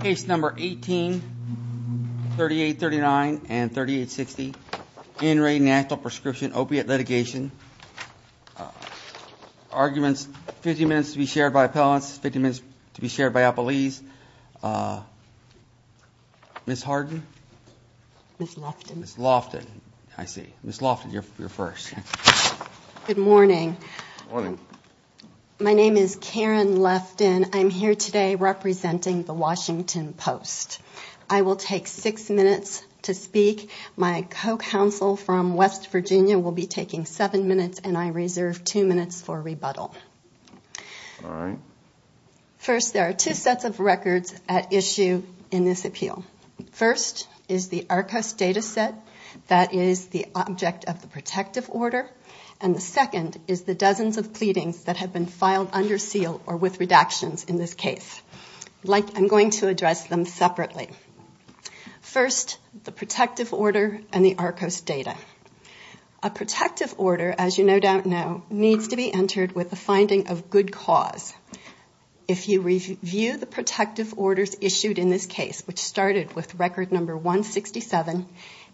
Case number 18 38 39 and 38 60 in re National Prescription Opiate Litigation Arguments 50 minutes to be shared by appellants 50 minutes to be shared by a police Miss Harden Lofton I see miss Lofton your first Good morning. Morning My name is Karen left in I'm here today Representing the Washington Post. I will take six minutes to speak My co-counsel from West Virginia will be taking seven minutes and I reserve two minutes for rebuttal First there are two sets of records at issue in this appeal First is the Arcos data set that is the object of the protective order And the second is the dozens of pleadings that have been filed under seal or with redactions in this case Like I'm going to address them separately first the protective order and the Arcos data a Protective order as you no doubt. No needs to be entered with the finding of good cause If you review the protective orders issued in this case, which started with record number 167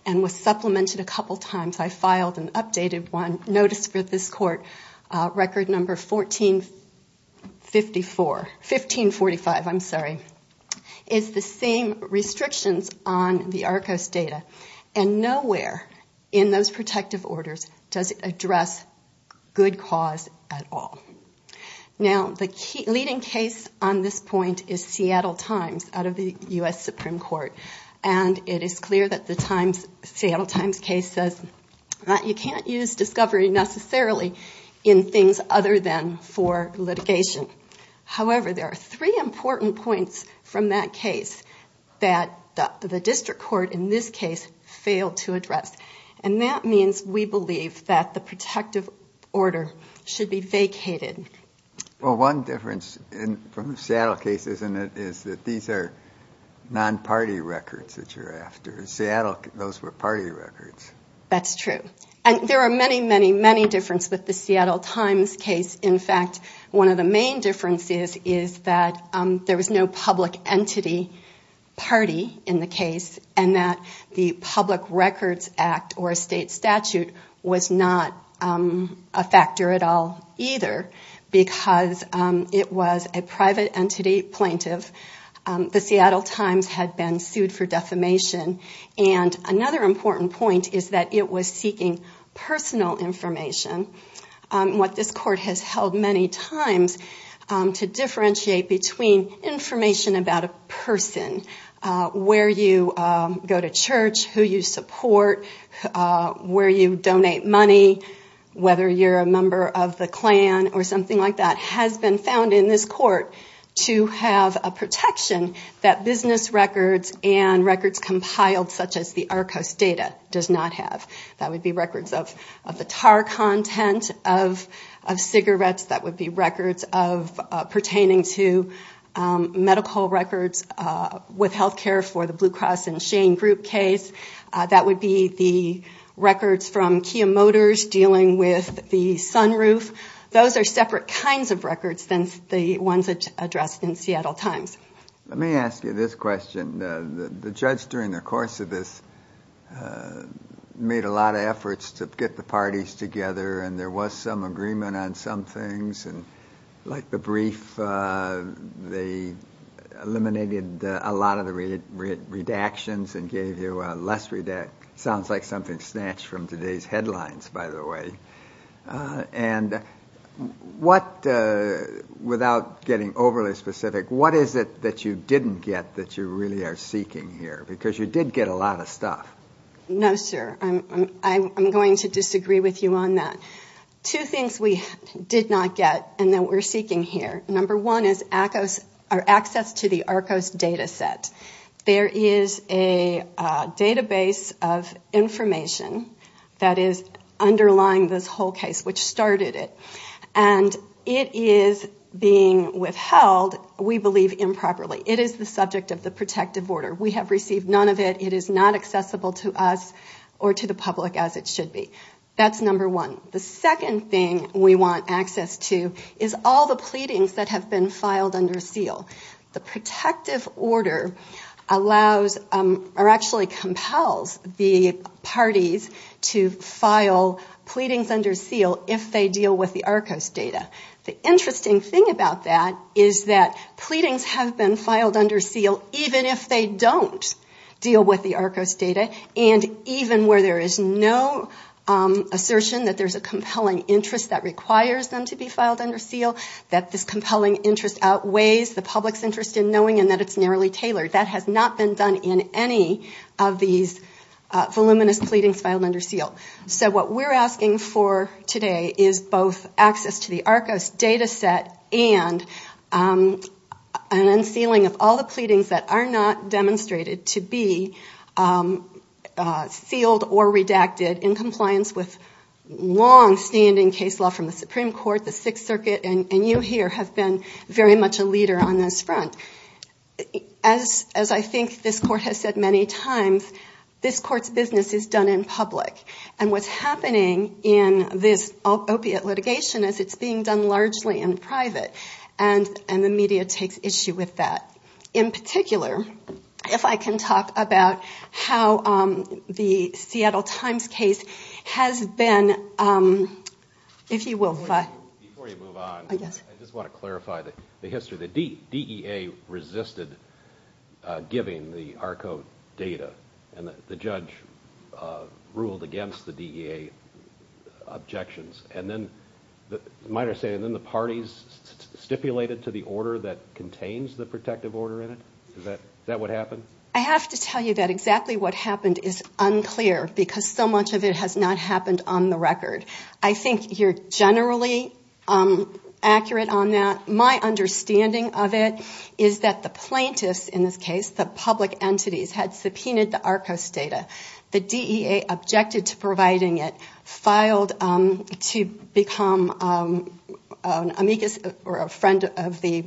and was supplemented a couple times. I filed an updated one notice for this court record number 1454 1545 I'm sorry is the same Restrictions on the Arcos data and nowhere in those protective orders. Does it address? Good cause at all now the key leading case on this point is Seattle Times out of the US Supreme Court and It is clear that the Times Seattle Times case says that you can't use discovery necessarily in things other than for litigation however, there are three important points from that case that The district court in this case failed to address and that means we believe that the protective order Should be vacated Well one difference in from the saddle cases and it is that these are Non-party records that you're after Seattle. Those were party records That's true. And there are many many many difference with the Seattle Times case In fact, one of the main differences is that there was no public entity party in the case and that the Public Records Act or a state statute was not a factor at all either Because it was a private entity plaintiff The Seattle Times had been sued for defamation and another important point is that it was seeking personal information What this court has held many times? to differentiate between information about a person Where you go to church who you support? Where you donate money? Whether you're a member of the Klan or something like that has been found in this court to have a protection that business records and records compiled such as the Arcos data does not have that would be records of the tar content of cigarettes that would be records of pertaining to medical records with health care for the Blue Cross and Shane group case that would be the Motors dealing with the sunroof. Those are separate kinds of records than the ones addressed in Seattle Times Let me ask you this question the judge during the course of this Made a lot of efforts to get the parties together and there was some agreement on some things and like the brief they eliminated a lot of the Redactions and gave you a less read that sounds like something snatched from today's headlines, by the way and What? Without getting overly specific. What is it that you didn't get that you really are seeking here because you did get a lot of stuff No, sir. I'm going to disagree with you on that Two things we did not get and then we're seeking here Number one is access our access to the Arcos data set. There is a database of information that is underlying this whole case which started it and It is being withheld. We believe improperly. It is the subject of the protective order We have received none of it. It is not accessible to us or to the public as it should be That's number one The second thing we want access to is all the pleadings that have been filed under seal the protective order allows or actually compels the parties to file Pleadings under seal if they deal with the Arcos data the interesting thing about that Is that pleadings have been filed under seal even if they don't? Deal with the Arcos data and even where there is no Assertion that there's a compelling interest that requires them to be filed under seal that this compelling interest outweighs the public's interest in knowing And that it's narrowly tailored that has not been done in any of these Voluminous pleadings filed under seal. So what we're asking for today is both access to the Arcos data set and An unsealing of all the pleadings that are not demonstrated to be Sealed or redacted in compliance with Long standing case law from the Supreme Court the Sixth Circuit and you here have been very much a leader on this front As as I think this court has said many times This court's business is done in public and what's happening in this? Opiate litigation as it's being done largely in private and and the media takes issue with that in particular If I can talk about how the Seattle Times case has been If you will Yes, I just want to clarify that the history the DEA resisted Giving the Arco data and the judge ruled against the DEA objections and then the minor saying then the parties Stipulated to the order that contains the protective order in it that that would happen I have to tell you that exactly what happened is unclear because so much of it has not happened on the record I think you're generally Accurate on that my understanding of it Is that the plaintiffs in this case the public entities had subpoenaed the Arcos data the DEA? objected to providing it filed to become Amicus or a friend of the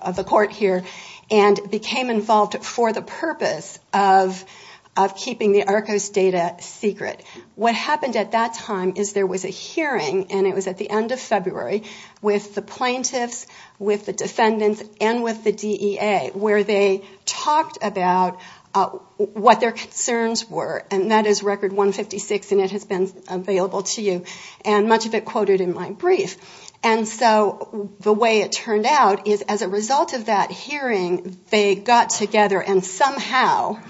of the court here and became involved for the purpose of Keeping the Arcos data secret what happened at that time is there was a hearing and it was at the end of February With the plaintiffs with the defendants and with the DEA where they talked about What their concerns were and that is record 156 and it has been available to you and much of it quoted in my brief and so the way it turned out is as a result of that hearing they got together and somehow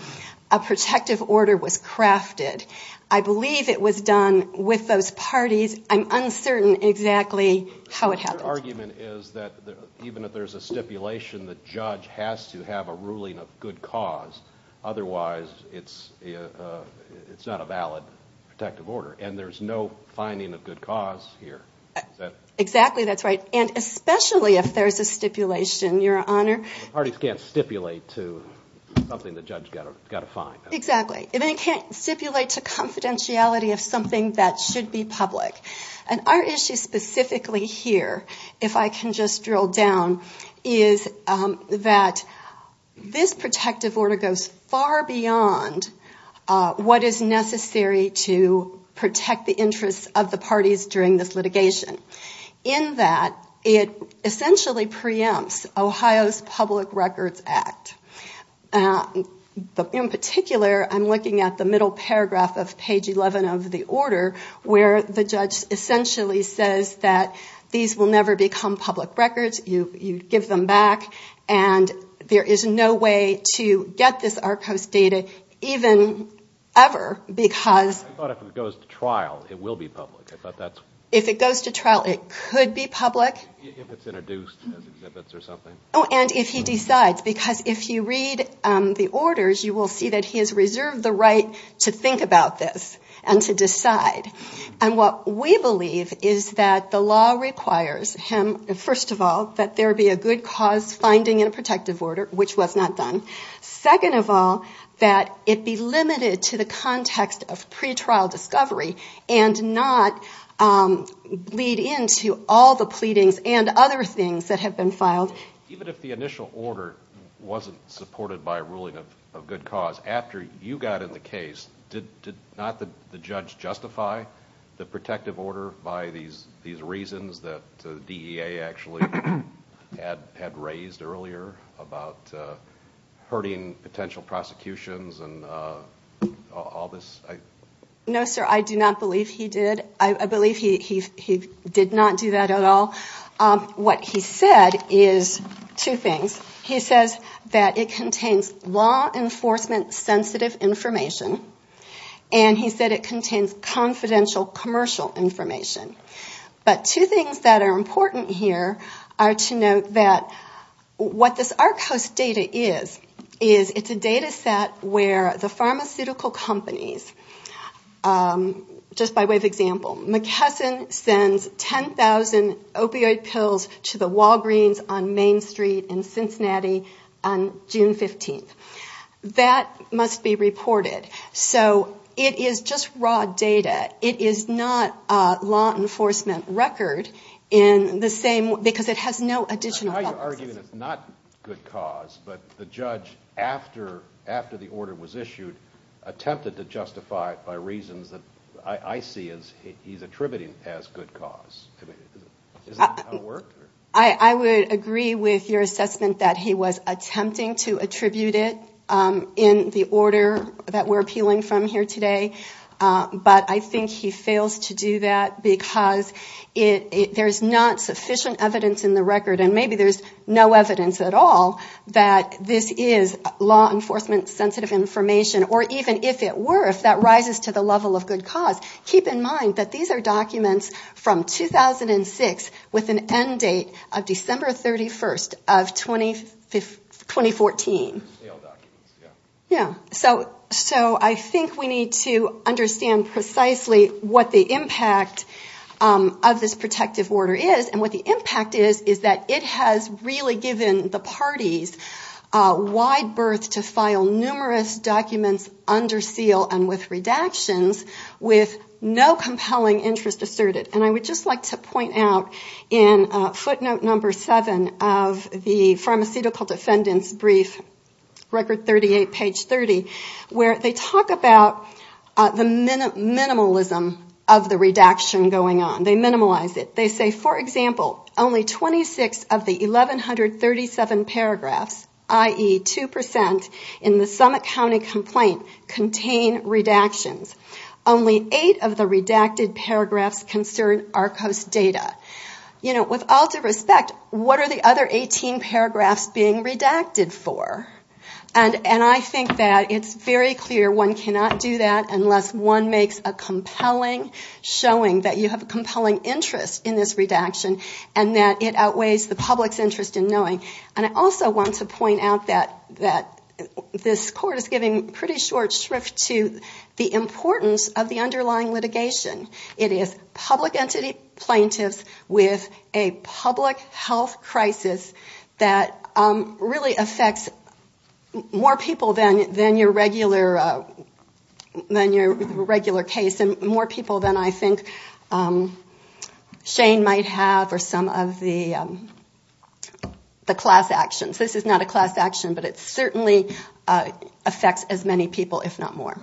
a Protective order was crafted. I believe it was done with those parties. I'm uncertain exactly How it happened argument is that even if there's a stipulation that judge has to have a ruling of good cause otherwise, it's It's not a valid protective order and there's no finding of good cause here Exactly. That's right. And especially if there's a stipulation your honor parties can't stipulate to Something the judge got a fine exactly It can't stipulate to confidentiality of something that should be public and our issue specifically here if I can just drill down is that This protective order goes far beyond What is necessary to protect the interests of the parties during this litigation in that it? essentially preempts Ohio's Public Records Act But in particular I'm looking at the middle paragraph of page 11 of the order where the judge Essentially says that these will never become public records. You you give them back and there is no way to get this our coast data even ever because Trial it will be public. I thought that's if it goes to trial. It could be public Oh and if he decides because if you read The orders you will see that he has reserved the right to think about this and to decide And what we believe is that the law requires him First of all that there be a good cause finding in a protective order, which was not done second of all that it be limited to the context of pretrial discovery and not Lead into all the pleadings and other things that have been filed even if the initial order Wasn't supported by a ruling of good cause after you got in the case Not that the judge justified the protective order by these these reasons that the DEA actually had had raised earlier about hurting potential prosecutions and all this No, sir. I do not believe he did. I believe he did not do that at all What he said is two things. He says that it contains law enforcement Sensitive information and He said it contains confidential commercial information but two things that are important here are to note that What this our coast data is is it's a data set where the pharmaceutical companies? Just by way of example McKesson sends 10,000 opioid pills to the Walgreens on Main Street in Cincinnati on June 15th That must be reported So it is just raw data. It is not a law enforcement record in The same because it has no additional argument. It's not good cause but the judge after After the order was issued Attempted to justify it by reasons that I see is he's attributing as good cause I I would agree with your assessment that he was attempting to attribute it in the order that we're appealing from here today, but I think he fails to do that because it There's not sufficient evidence in the record and maybe there's no evidence at all that This is law enforcement sensitive information or even if it were if that rises to the level of good cause keep in mind that these are documents from 2006 with an end date of December 31st of 2015 2014 Yeah, so so I think we need to understand precisely what the impact Of this protective order is and what the impact is is that it has really given the parties wide berth to file numerous documents under seal and with redactions with no compelling interest asserted and I would just like to point out in Footnote number seven of the pharmaceutical defendants brief record 38 page 30 where they talk about the Minimalism of the redaction going on they minimalize it. They say for example only 26 of the 1137 paragraphs ie 2% in the summit County complaint contain redactions only 8 of the redacted paragraphs concern our coast data You know with all due respect What are the other 18 paragraphs being redacted for and and I think that it's very clear One cannot do that unless one makes a compelling Showing that you have a compelling interest in this redaction and that it outweighs the public's interest in knowing and I also want to point out that that This court is giving pretty short shrift to the importance of the underlying litigation It is public entity plaintiffs with a public health crisis that really affects more people than than your regular Than your regular case and more people than I think Shane might have or some of the The class actions, this is not a class action, but it certainly Affects as many people if not more.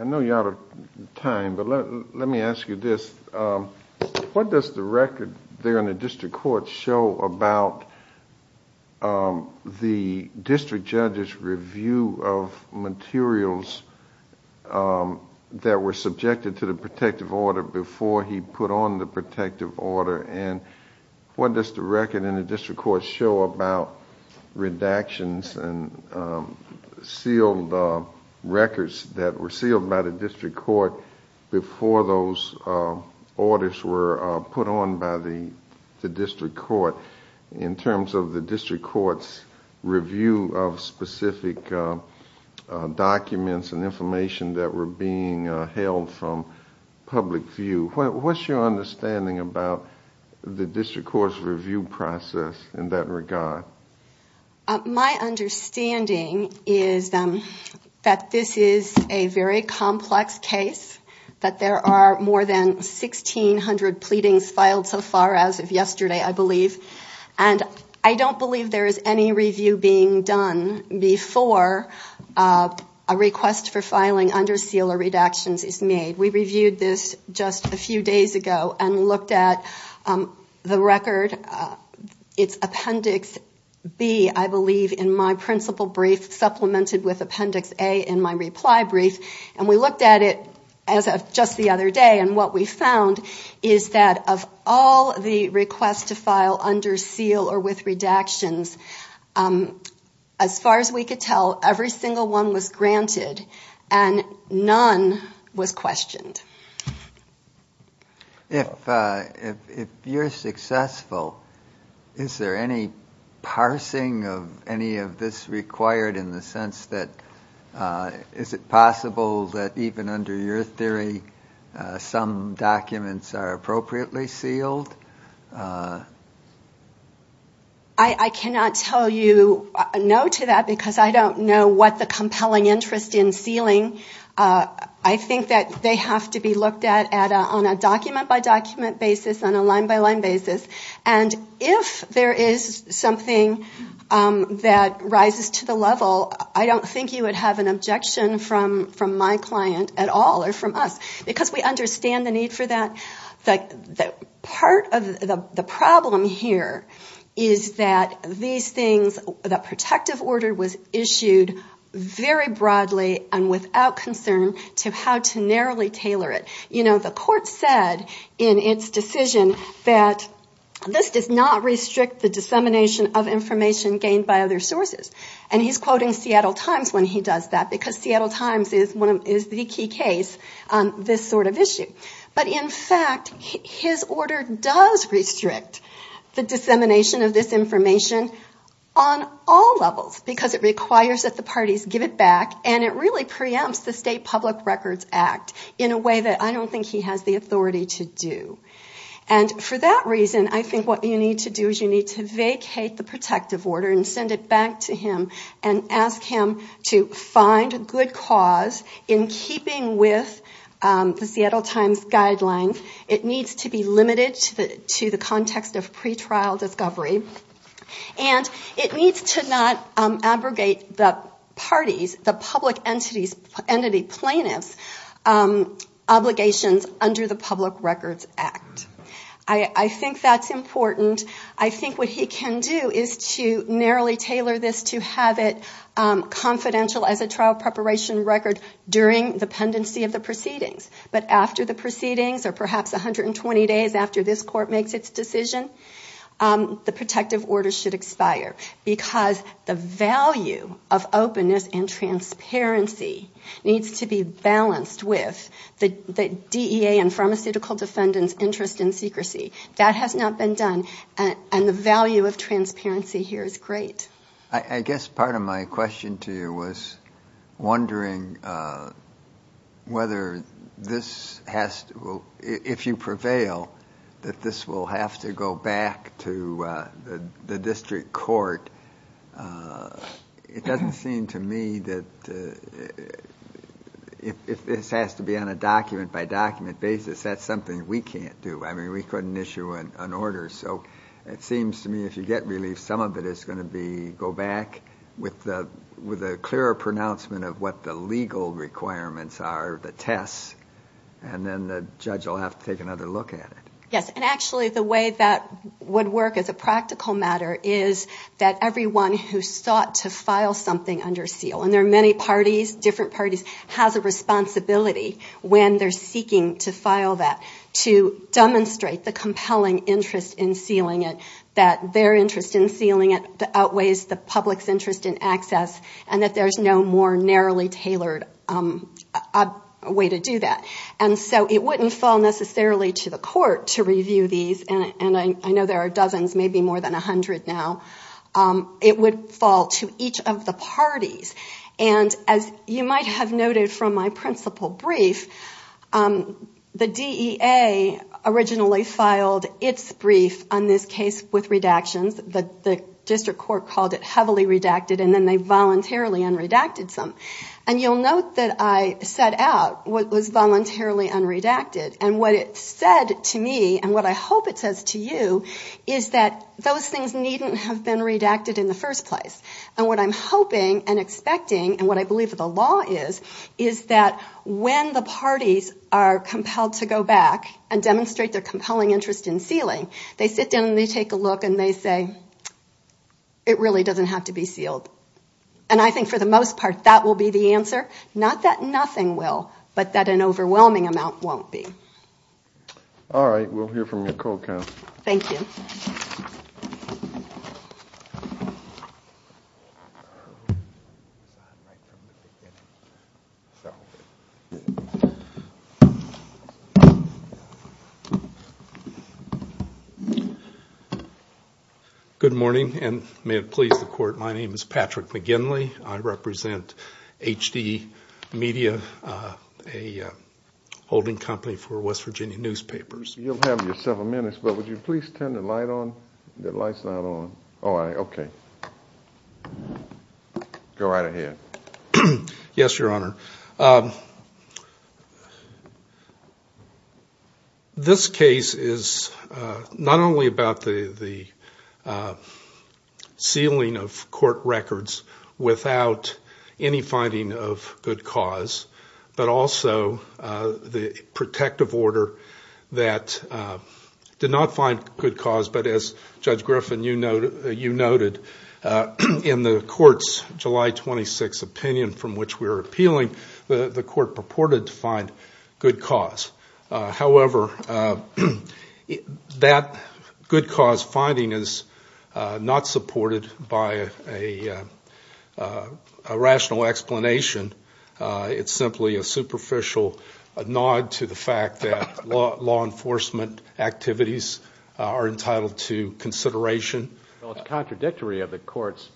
I know you're out of time, but let me ask you this What does the record there in the district court show about? The district judges review of materials That were subjected to the protective order before he put on the protective order and What does the record in the district court show about? redactions and sealed Records that were sealed by the district court before those Orders were put on by the the district court in terms of the district courts review of specific Documents and information that were being held from Public view. What's your understanding about the district courts review process in that regard? My understanding is That this is a very complex case that there are more than 1,600 pleadings filed so far as of yesterday, I believe and I don't believe there is any review being done before a Request for filing under seal or redactions is made. We reviewed this just a few days ago and looked at the record It's appendix B I believe in my principal brief Supplemented with appendix A in my reply brief and we looked at it as of just the other day and what we found is That of all the requests to file under seal or with redactions As far as we could tell every single one was granted and none was questioned If You're successful Is there any? parsing of any of this required in the sense that Is it possible that even under your theory? Some documents are appropriately sealed I Cannot tell you no to that because I don't know what the compelling interest in sealing I think that they have to be looked at at on a document by document basis on a line-by-line basis and If there is something That rises to the level I don't think you would have an objection from from my client at all or from us because we understand the need for that like that part of the problem here is That these things that protective order was issued Very broadly and without concern to how to narrowly tailor it, you know the court said in its decision that This does not restrict the dissemination of information gained by other sources And he's quoting Seattle Times when he does that because Seattle Times is one of is the key case on this sort of issue but in fact his order does restrict the dissemination of this information on All levels because it requires that the parties give it back and it really preempts the state public records act in a way that I don't think he has the authority to do and for that reason I think what you need to do is you need to vacate the protective order and send it back to him and Ask him to find a good cause in keeping with The Seattle Times guidelines. It needs to be limited to the context of pretrial discovery And it needs to not abrogate the parties the public entities entity plaintiffs Obligations under the public records act. I Think that's important. I think what he can do is to narrowly tailor this to have it Confidential as a trial preparation record during the pendency of the proceedings But after the proceedings or perhaps 120 days after this court makes its decision The protective order should expire because the value of openness and Transparency needs to be balanced with the the DEA and pharmaceutical defendants interest in secrecy That has not been done and the value of transparency here is great. I guess part of my question to you was wondering Whether this has to well if you prevail that this will have to go back to the district court It doesn't seem to me that If this has to be on a document by document basis, that's something we can't do I mean we couldn't issue an order So it seems to me if you get relief some of it is going to be go back With the with a clearer pronouncement of what the legal requirements are the tests and then the judge I'll have to take another look at it Yes and actually the way that Would work as a practical matter is that everyone who sought to file something under seal and there are many parties different parties has a responsibility when they're seeking to file that to Demonstrate the compelling interest in sealing it that their interest in sealing it Outweighs the public's interest in access and that there's no more narrowly tailored Way to do that And so it wouldn't fall necessarily to the court to review these and I know there are dozens maybe more than a hundred now It would fall to each of the parties and as you might have noted from my principal brief The DEA Originally filed its brief on this case with redactions But the district court called it heavily redacted and then they voluntarily and redacted some and you'll note that I set out What was voluntarily unredacted and what it said to me and what I hope it says to you Is that those things needn't have been redacted in the first place and what I'm hoping and expecting And what I believe that the law is is that when the parties are Compelled to go back and demonstrate their compelling interest in sealing they sit down and they take a look and they say It really doesn't have to be sealed and I think for the most part that will be the answer not that nothing will but that An overwhelming amount won't be All right. We'll hear from your co-counsel. Thank you Good Morning and may it please the court. My name is Patrick McGinley. I represent HD media a Holding company for West Virginia newspapers. You'll have your several minutes, but would you please turn the light on the lights not on? Oh, I okay Go right ahead. Yes, your honor This case is not only about the the Sealing of court records without any finding of good cause but also the protective order that Did not find good cause but as judge Griffin, you know, you noted In the court's July 26 opinion from which we were appealing the the court purported to find good cause however That good cause finding is not supported by a Rational explanation It's simply a superficial nod to the fact that law enforcement activities are entitled to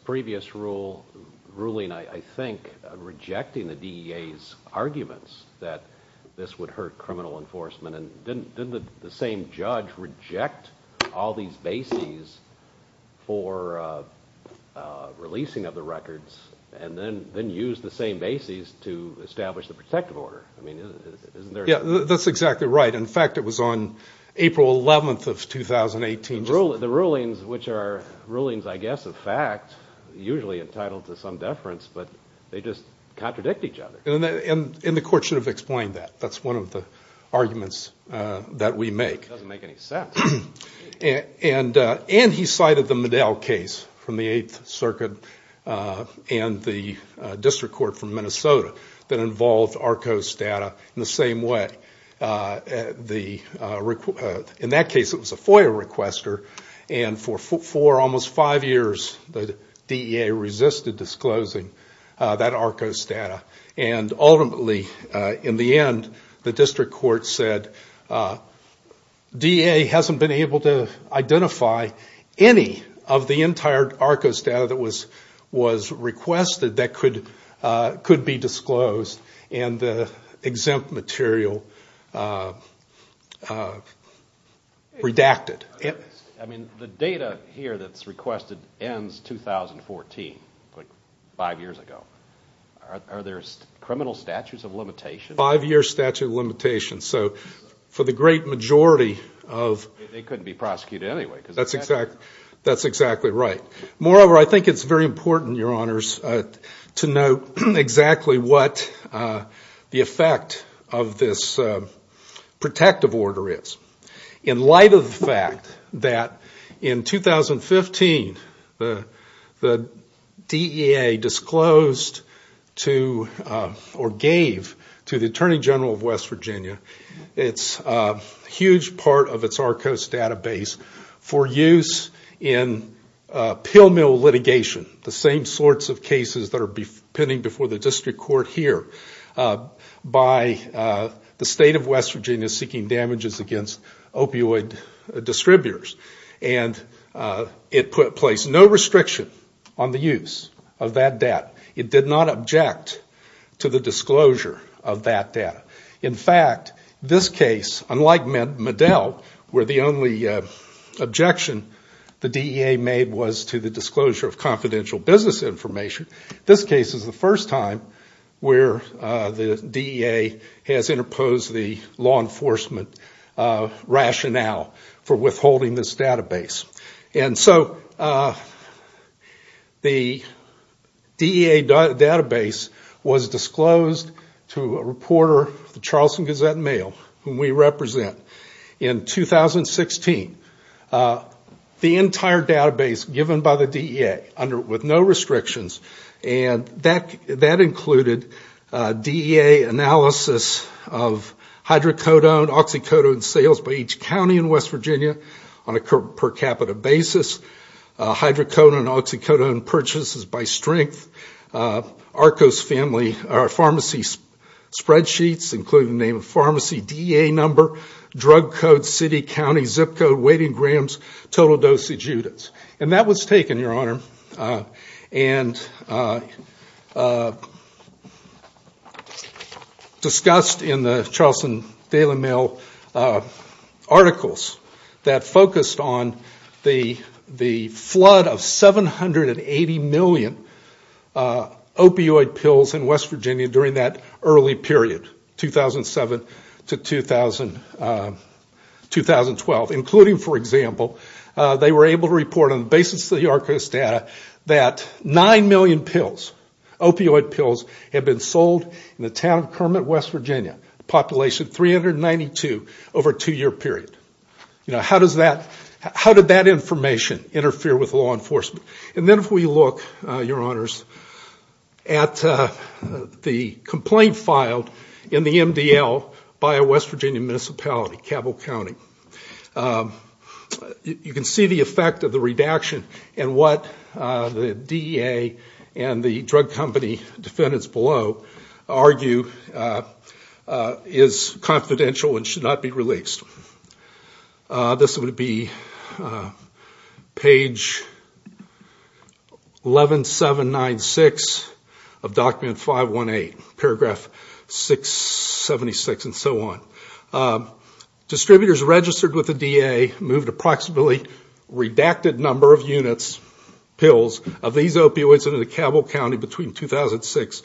Previous rule ruling, I think Rejecting the DEA's Arguments that this would hurt criminal enforcement and then the same judge reject all these bases for Releasing of the records and then then use the same bases to establish the protective order. I mean Yeah, that's exactly right. In fact, it was on April 11th of 2018 rule of the rulings which are rulings I guess of fact Usually entitled to some deference, but they just contradict each other and in the court should have explained that that's one of the arguments That we make And and and he cited the Medell case from the 8th Circuit and the District Court from Minnesota that involved Arco's data in the same way The In that case, it was a FOIA requester and for four almost five years the DEA resisted disclosing that Arco's data and ultimately in the end the district court said DEA hasn't been able to identify any of the entire Arco's data that was was requested that could could be disclosed and Exempt material Redacted it. I mean the data here that's requested ends 2014 like five years ago Are there's criminal statutes of limitation five-year statute of limitations. So for the great majority of It couldn't be prosecuted. Anyway, that's exact. That's exactly right. Moreover. I think it's very important your honors to know exactly what The effect of this Protective order is in light of the fact that in 2015 the the DEA disclosed to Or gave to the Attorney General of West Virginia. It's a huge part of its Arco's database for use in Pill-mill litigation the same sorts of cases that are pending before the district court here by the state of West Virginia seeking damages against opioid distributors and It put place no restriction on the use of that debt It did not object to the disclosure of that data in fact this case unlike Medell were the only Objection the DEA made was to the disclosure of confidential business information. This case is the first time Where the DEA has interposed the law enforcement? Rationale for withholding this database and so The DEA database was disclosed to a reporter the Charleston Gazette-Mail whom we represent in 2016 the entire database given by the DEA under with no restrictions and that that included DEA analysis of Hydrocodone oxycodone sales by each County in West Virginia on a per capita basis Hydrocodone oxycodone purchases by strength Arco's family our pharmacy Spreadsheets including the name of pharmacy DEA number drug code City County zip code waiting grams total dosage units and that was taken your honor and Discussed in the Charleston Daily Mail Articles that focused on the the flood of 780 million Opioid pills in West Virginia during that early period 2007 to 2000 2012 including for example They were able to report on the basis of the Arco's data that 9 million pills Opioid pills have been sold in the town of Kermit, West Virginia population 392 over a two-year period You know, how does that how did that information interfere with law enforcement? And then if we look your honors at The complaint filed in the MDL by a West Virginia municipality Cabell County You can see the effect of the redaction and what the DEA and the drug company defendants below argue Is confidential and should not be released This would be Page 11796 of document 518 paragraph 676 and so on Distributors registered with the DEA moved approximately redacted number of units pills of these opioids into the Cabell County between 2006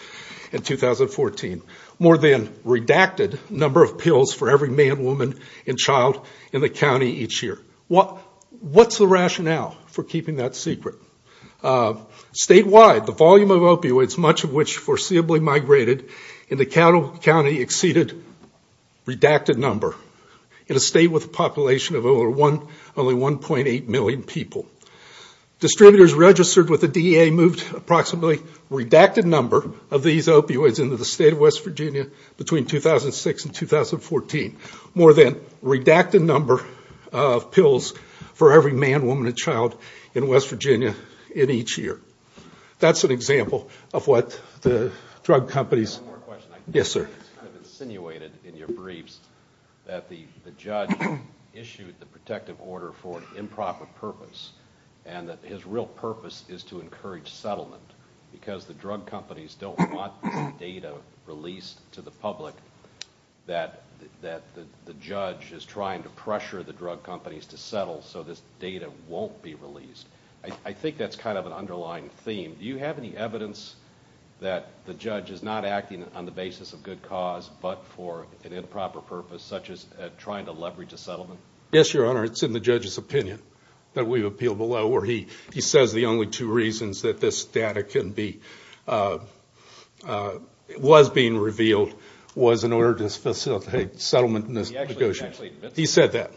and 2014 more than redacted number of pills for every man woman and child in the county each year What what's the rationale for keeping that secret? Statewide the volume of opioids much of which foreseeably migrated in the Cabell County exceeded Redacted number in a state with a population of over one only 1.8 million people Distributors registered with the DEA moved approximately Redacted number of these opioids into the state of West Virginia between 2006 and 2014 more than redacted number Of pills for every man woman and child in West Virginia in each year That's an example of what the drug companies Yes, sir insinuated in your briefs that the the judge Issued the protective order for an improper purpose and that his real purpose is to encourage settlement Because the drug companies don't want data released to the public That that the judge is trying to pressure the drug companies to settle so this data won't be released I think that's kind of an underlying theme. Do you have any evidence that? The judge is not acting on the basis of good cause but for an improper purpose such as trying to leverage a settlement Yes, your honor It's in the judge's opinion that we've appealed below where he he says the only two reasons that this data can be It was being revealed was in order to facilitate settlement in this negotiation he said that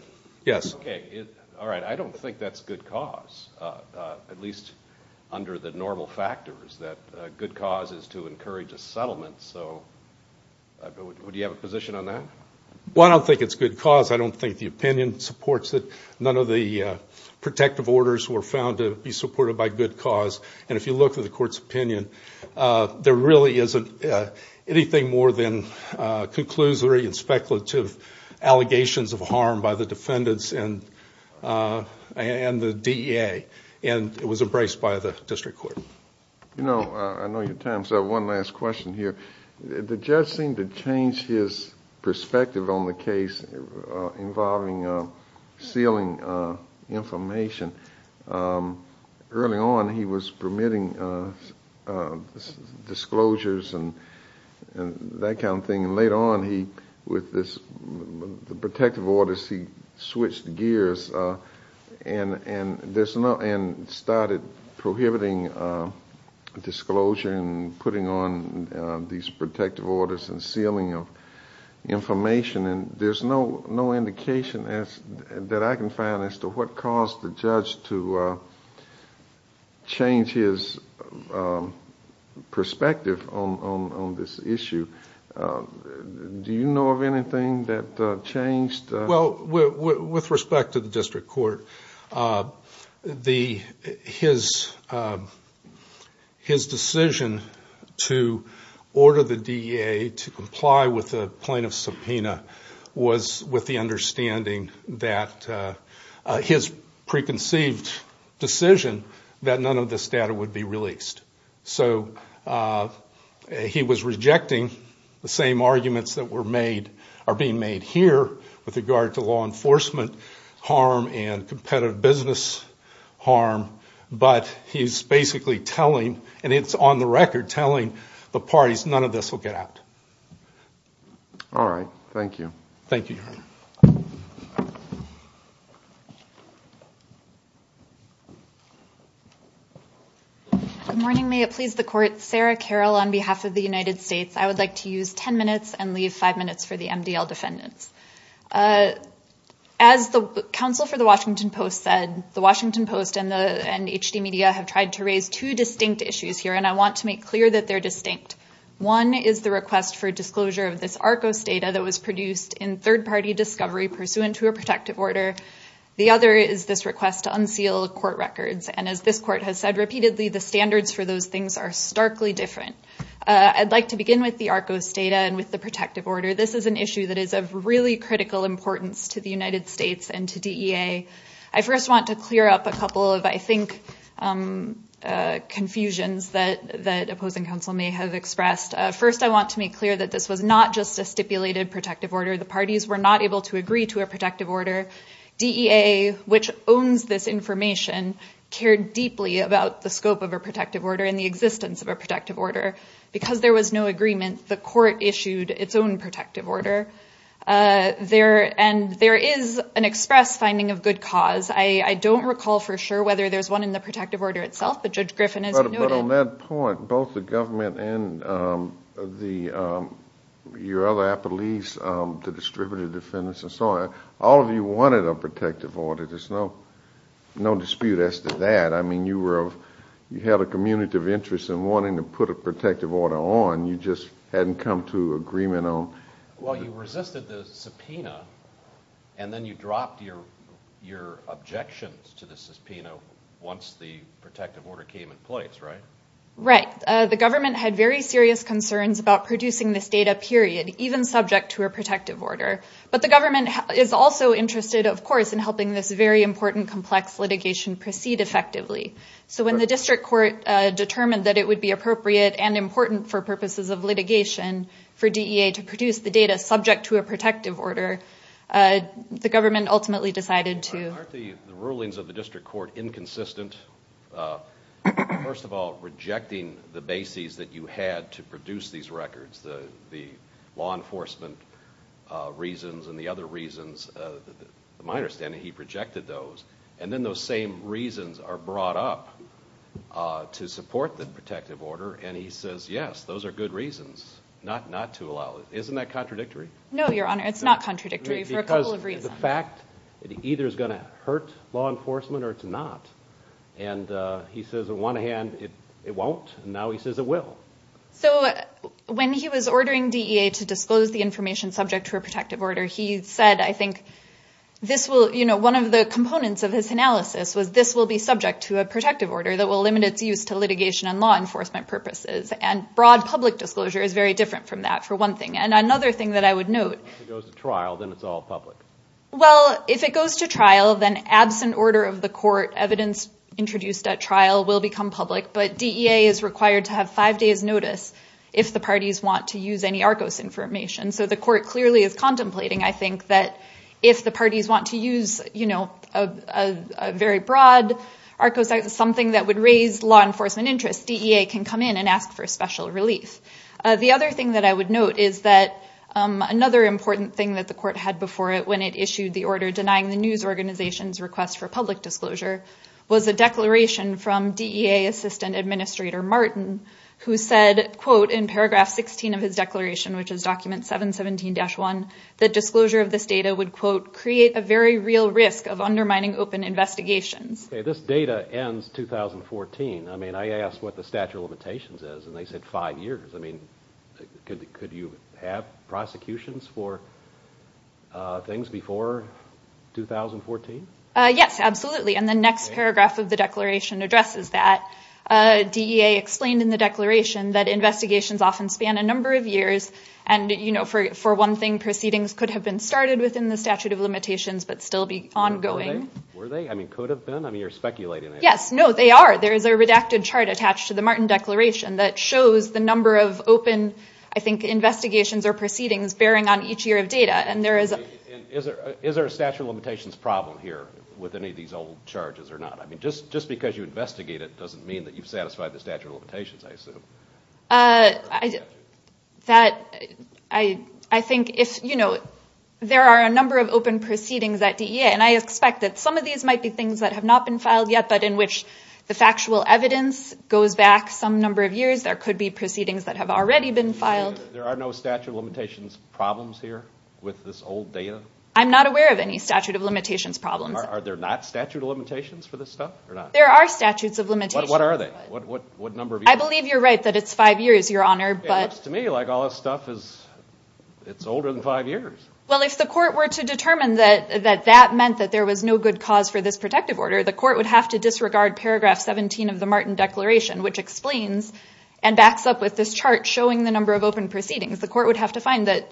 yes Okay. All right. I don't think that's good cause at least under the normal factors that good cause is to encourage a settlement, so Would you have a position on that? Well, I don't think it's good cause I don't think the opinion supports that none of the Protective orders were found to be supported by good cause and if you look at the court's opinion there really isn't anything more than conclusory and speculative allegations of harm by the defendants and And the DEA and it was embraced by the district court, you know I know your time so one last question here the judge seemed to change his perspective on the case involving sealing Information Early on he was permitting Disclosures and That kind of thing and later on he with this The protective orders he switched gears And and there's no and started prohibiting Disclosure and putting on these protective orders and sealing of Information and there's no no indication as that I can find as to what caused the judge to Change his Perspective on this issue Do you know of anything that changed well with respect to the district court the his His decision to Order the DEA to comply with the plaintiff subpoena was with the understanding that his preconceived Decision that none of this data would be released. So He was rejecting the same arguments that were made are being made here with regard to law enforcement harm and competitive business Harm, but he's basically telling and it's on the record telling the parties. None of this will get out All right. Thank you. Thank you Good morning, may it please the court Sarah Carroll on behalf of the United States I would like to use 10 minutes and leave five minutes for the MDL defendants as Counsel for the Washington Post said the Washington Post and the and HD media have tried to raise two distinct issues here And I want to make clear that they're distinct One is the request for disclosure of this Arcos data that was produced in third-party discovery pursuant to a protective order The other is this request to unseal court records and as this court has said repeatedly the standards for those things are starkly different I'd like to begin with the Arcos data and with the protective order This is an issue that is of really critical importance to the United States and to DEA I first want to clear up a couple of I think Confusions that that opposing counsel may have expressed first I want to make clear that this was not just a stipulated protective order The parties were not able to agree to a protective order DEA which owns this information Cared deeply about the scope of a protective order in the existence of a protective order Because there was no agreement the court issued its own protective order There and there is an express finding of good cause I I don't recall for sure whether there's one in the protective order itself, but judge Griffin is on that point both the government and the Your other a police to distributed defendants and so on all of you wanted a protective order. There's no No dispute as to that I mean you were you had a community of interest in wanting to put a protective order on you just hadn't come to agreement on well, you resisted the subpoena and Then you dropped your your objections to the subpoena once the protective order came in place, right? Right, the government had very serious concerns about producing this data period even subject to a protective order But the government is also interested of course in helping this very important complex litigation proceed effectively so when the district court Determined that it would be appropriate and important for purposes of litigation for DEA to produce the data subject to a protective order The government ultimately decided to the rulings of the district court inconsistent First of all rejecting the bases that you had to produce these records the the law enforcement Reasons and the other reasons my understanding he projected those and then those same reasons are brought up To support the protective order and he says yes, those are good reasons not not to allow it. Isn't that contradictory? No, your honor. It's not contradictory for a couple of reasons the fact it either is gonna hurt law enforcement or it's not and He says at one hand it it won't and now he says it will so When he was ordering DEA to disclose the information subject to a protective order he said I think This will you know One of the components of his analysis was this will be subject to a protective order that will limit its use to litigation and law Enforcement purposes and broad public disclosure is very different from that for one thing and another thing that I would note Well, if it goes to trial then absent order of the court evidence introduced at trial will become public But DEA is required to have five days notice if the parties want to use any Arcos information so the court clearly is contemplating I think that if the parties want to use, you know, a Very broad Arcos is something that would raise law enforcement interest DEA can come in and ask for a special relief the other thing that I would note is that Another important thing that the court had before it when it issued the order denying the news organizations request for public disclosure Was a declaration from DEA assistant administrator Martin who said quote in paragraph 16 of his declaration Which is document 717-1 the disclosure of this data would quote create a very real risk of undermining open investigations Okay, this data ends 2014 I mean I asked what the statute of limitations is and they said five years. I mean Could you have prosecutions for? things before 2014 yes, absolutely. And the next paragraph of the declaration addresses that DEA explained in the declaration that investigations often span a number of years and You know for for one thing proceedings could have been started within the statute of limitations, but still be ongoing Yes, no, they are there is a redacted chart attached to the Martin declaration that shows the number of open I think investigations or proceedings bearing on each year of data and there is Is there is there a statute of limitations problem here with any of these old charges or not? I mean just just because you investigate it doesn't mean that you've satisfied the statute of limitations. I assume That I I think if you know There are a number of open proceedings at DEA and I expect that some of these might be things that have not been filed yet But in which the factual evidence goes back some number of years there could be proceedings that have already been filed There are no statute of limitations problems here with this old data I'm not aware of any statute of limitations problems. Are there not statute of limitations for this stuff or not? There are statutes of limitations. What are they? What number? I believe you're right that it's five years your honor but to me like all this stuff is It's older than five years Well, if the court were to determine that that that meant that there was no good cause for this protective order the court would have to disregard paragraph 17 of the Martin declaration which explains and Proceedings the court would have to find that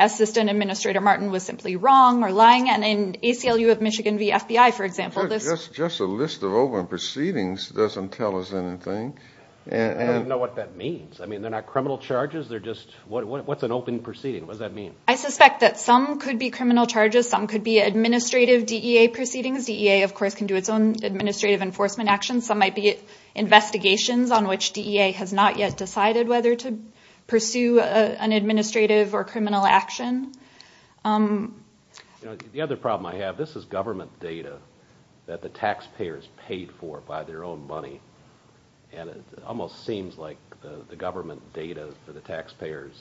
Assistant Administrator Martin was simply wrong or lying and in ACLU of Michigan V FBI for example This is just a list of open proceedings doesn't tell us anything And I don't know what that means. I mean, they're not criminal charges. They're just what's an open proceeding? What does that mean? I suspect that some could be criminal charges some could be administrative DEA proceedings DEA of course can do its own administrative enforcement actions some might be Investigations on which DEA has not yet decided whether to pursue an administrative or criminal action The other problem I have this is government data that the taxpayers paid for by their own money And it almost seems like the government data for the taxpayers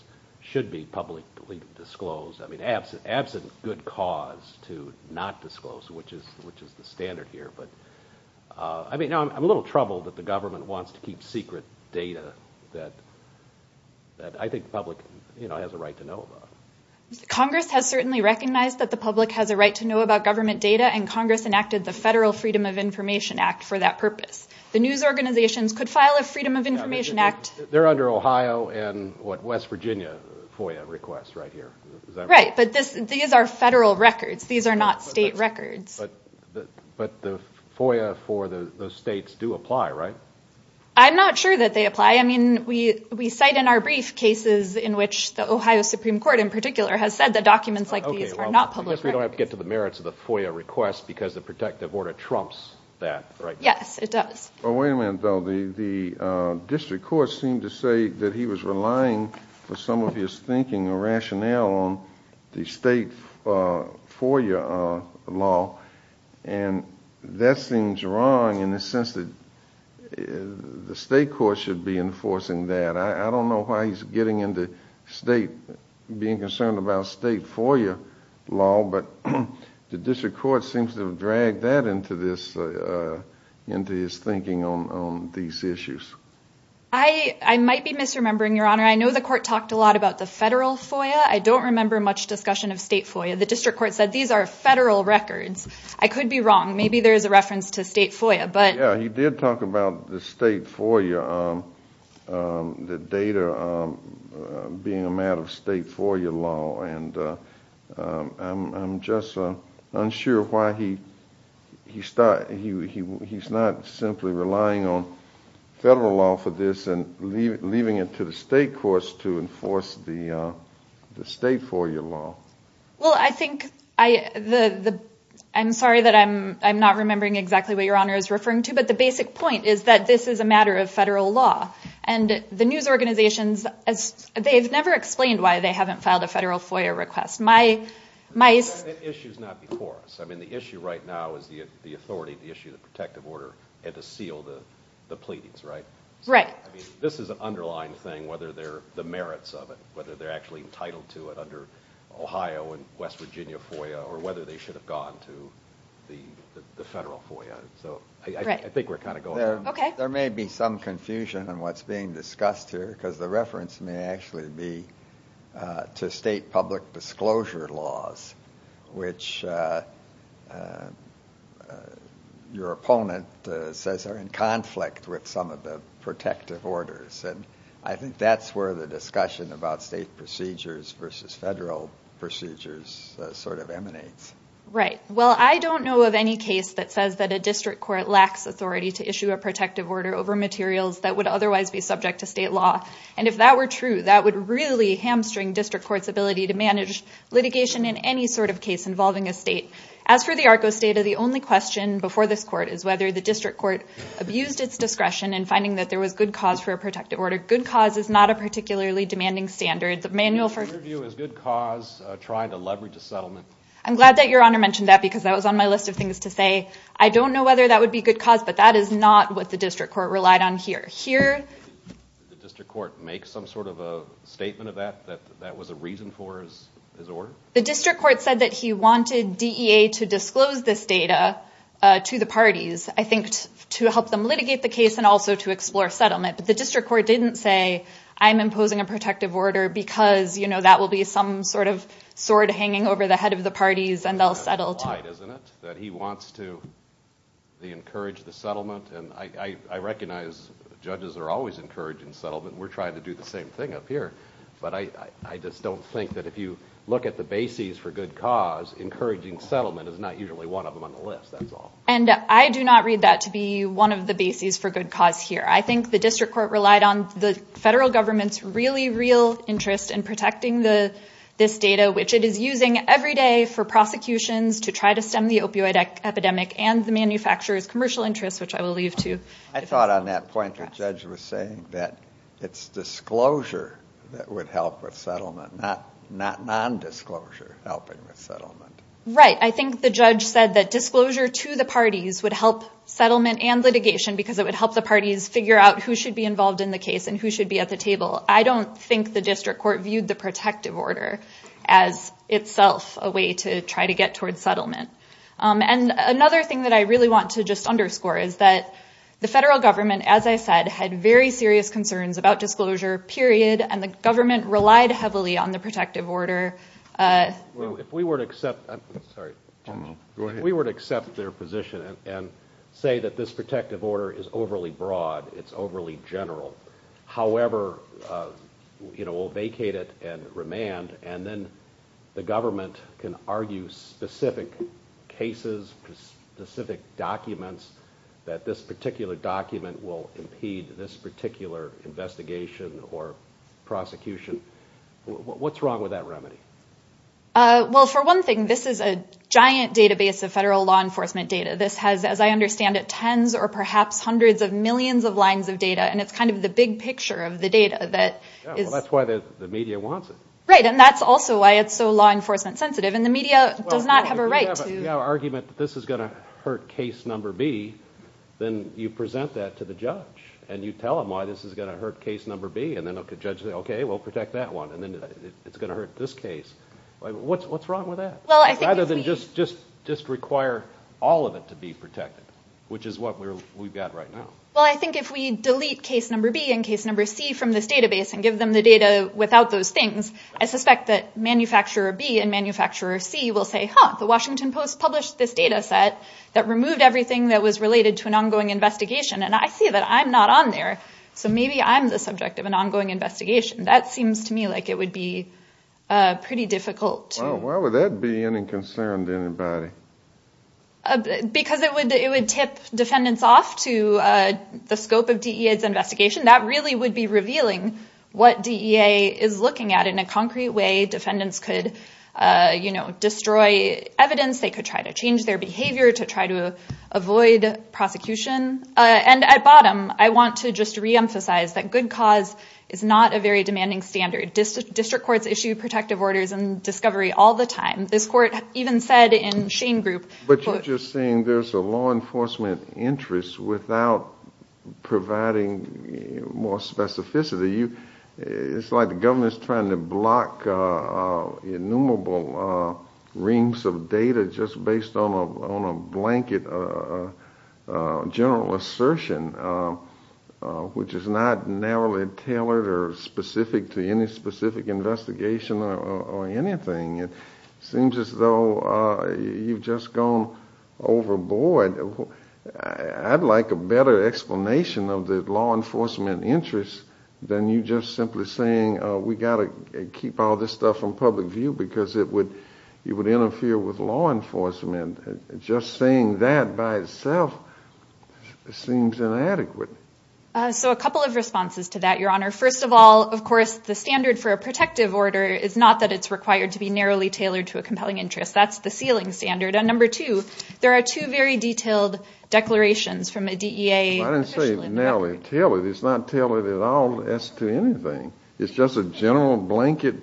should be publicly disclosed I mean absent absent good cause to not disclose which is which is the standard here, but I I'm a little troubled that the government wants to keep secret data that That I think public, you know has a right to know about Congress has certainly recognized that the public has a right to know about government data and Congress enacted the federal Freedom of Information Act for That purpose the news organizations could file a Freedom of Information Act there under Ohio and what West Virginia? FOIA requests right here, right, but this these are federal records. These are not state records But the FOIA for the states do apply right, I'm not sure that they apply I mean we we cite in our brief cases in which the Ohio Supreme Court in particular has said that documents like these are not Public we don't have to get to the merits of the FOIA requests because the protective order trumps that right? Yes, it does oh, wait a minute though the the District Court seemed to say that he was relying for some of his thinking or rationale on the state FOIA law and That seems wrong in the sense that The state court should be enforcing that I don't know why he's getting into state being concerned about state FOIA law, but The district court seems to have dragged that into this Into his thinking on these issues. I Might be misremembering your honor. I know the court talked a lot about the federal FOIA I don't remember much discussion of state FOIA. The district court said these are federal records. I could be wrong Maybe there's a reference to state FOIA, but yeah, he did talk about the state for you the data being a matter of state FOIA law and I'm just unsure why he He started he he's not simply relying on federal law for this and leave it leaving it to the state courts to enforce the the state FOIA law Well, I think I the the I'm sorry that I'm I'm not remembering exactly what your honor is referring to But the basic point is that this is a matter of federal law and the news organizations as they've never explained Why they haven't filed a federal FOIA request my my issues not before us I mean the issue right now is the authority the issue the protective order had to seal the the pleadings, right? This is an underlying thing whether they're the merits of it whether they're actually entitled to it under Ohio and West Virginia FOIA or whether they should have gone to the Federal FOIA. So I think we're kind of going there Okay, there may be some confusion and what's being discussed here because the reference may actually be to state public disclosure laws which Your opponent says are in conflict with some of the protective orders And I think that's where the discussion about state procedures versus federal procedures Sort of emanates, right? Well, I don't know of any case that says that a district court lacks authority to issue a protective order over materials That would otherwise be subject to state law and if that were true That would really hamstring district court's ability to manage litigation in any sort of case involving a state court As for the Arco state of the only question before this court is whether the district court Abused its discretion and finding that there was good cause for a protective order. Good cause is not a particularly demanding standard The manual for you is good cause trying to leverage a settlement I'm glad that your honor mentioned that because that was on my list of things to say I don't know whether that would be good cause but that is not what the district court relied on here here District court make some sort of a statement of that that that was a reason for his order The district court said that he wanted DEA to disclose this data To the parties I think to help them litigate the case and also to explore settlement but the district court didn't say I'm imposing a protective order because you know That will be some sort of sword hanging over the head of the parties and they'll settle that he wants to They encourage the settlement and I recognize judges are always encouraging settlement We're trying to do the same thing up here But I I just don't think that if you look at the bases for good cause Encouraging settlement is not usually one of them on the list That's all and I do not read that to be one of the bases for good cause here I think the district court relied on the federal government's really real interest in protecting the this data Which it is using every day for prosecutions to try to stem the opioid epidemic and the manufacturers commercial interests Which I will leave to I thought on that point the judge was saying that it's disclosure That would help with settlement not not non-disclosure helping with settlement, right? I think the judge said that disclosure to the parties would help Settlement and litigation because it would help the parties figure out who should be involved in the case and who should be at the table I don't think the district court viewed the protective order as Itself a way to try to get towards settlement And another thing that I really want to just underscore is that The federal government as I said had very serious concerns about disclosure period and the government relied heavily on the protective order If we were to accept We were to accept their position and say that this protective order is overly broad. It's overly general however You know will vacate it and remand and then the government can argue specific cases specific documents that this particular document will impede this particular investigation or prosecution What's wrong with that remedy? Well for one thing, this is a giant database of federal law enforcement data This has as I understand it tens or perhaps hundreds of millions of lines of data And it's kind of the big picture of the data that is that's why the media wants it, right? Does not have a right to Argument that this is gonna hurt case number B Then you present that to the judge and you tell them why this is gonna hurt case number B and then look at judge Okay, we'll protect that one and then it's gonna hurt this case What's what's wrong with that? Well, I think either than just just just require all of it to be protected Which is what we're we've got right now Well, I think if we delete case number B and case number C from this database and give them the data without those things I suspect that manufacturer B and manufacturer C will say huh the Washington Post published this data set that removed everything that was related to an Ongoing investigation and I see that I'm not on there. So maybe I'm the subject of an ongoing investigation That seems to me like it would be Pretty difficult. Why would that be any concern to anybody? Because it would it would tip defendants off to The scope of DEA's investigation that really would be revealing what DEA is looking at in a concrete way defendants could You know destroy evidence. They could try to change their behavior to try to avoid Prosecution and at bottom I want to just re-emphasize that good cause is not a very demanding standard District courts issue protective orders and discovery all the time this court even said in Shane group But you're just saying there's a law enforcement interest without Providing more specificity you it's like the government's trying to block Innumerable rings of data just based on a blanket General assertion Which is not narrowly tailored or specific to any specific investigation or anything. It seems as though You've just gone overboard I'd like a better explanation of the law enforcement Interest than you just simply saying we got to keep all this stuff from public view because it would you would interfere with law Enforcement just saying that by itself Seems inadequate So a couple of responses to that your honor First of all, of course the standard for a protective order is not that it's required to be narrowly tailored to a compelling interest That's the ceiling standard and number two. There are two very detailed Declarations from a DEA. I didn't say it's narrowly tailored. It's not tailored at all as to anything. It's just a general blanket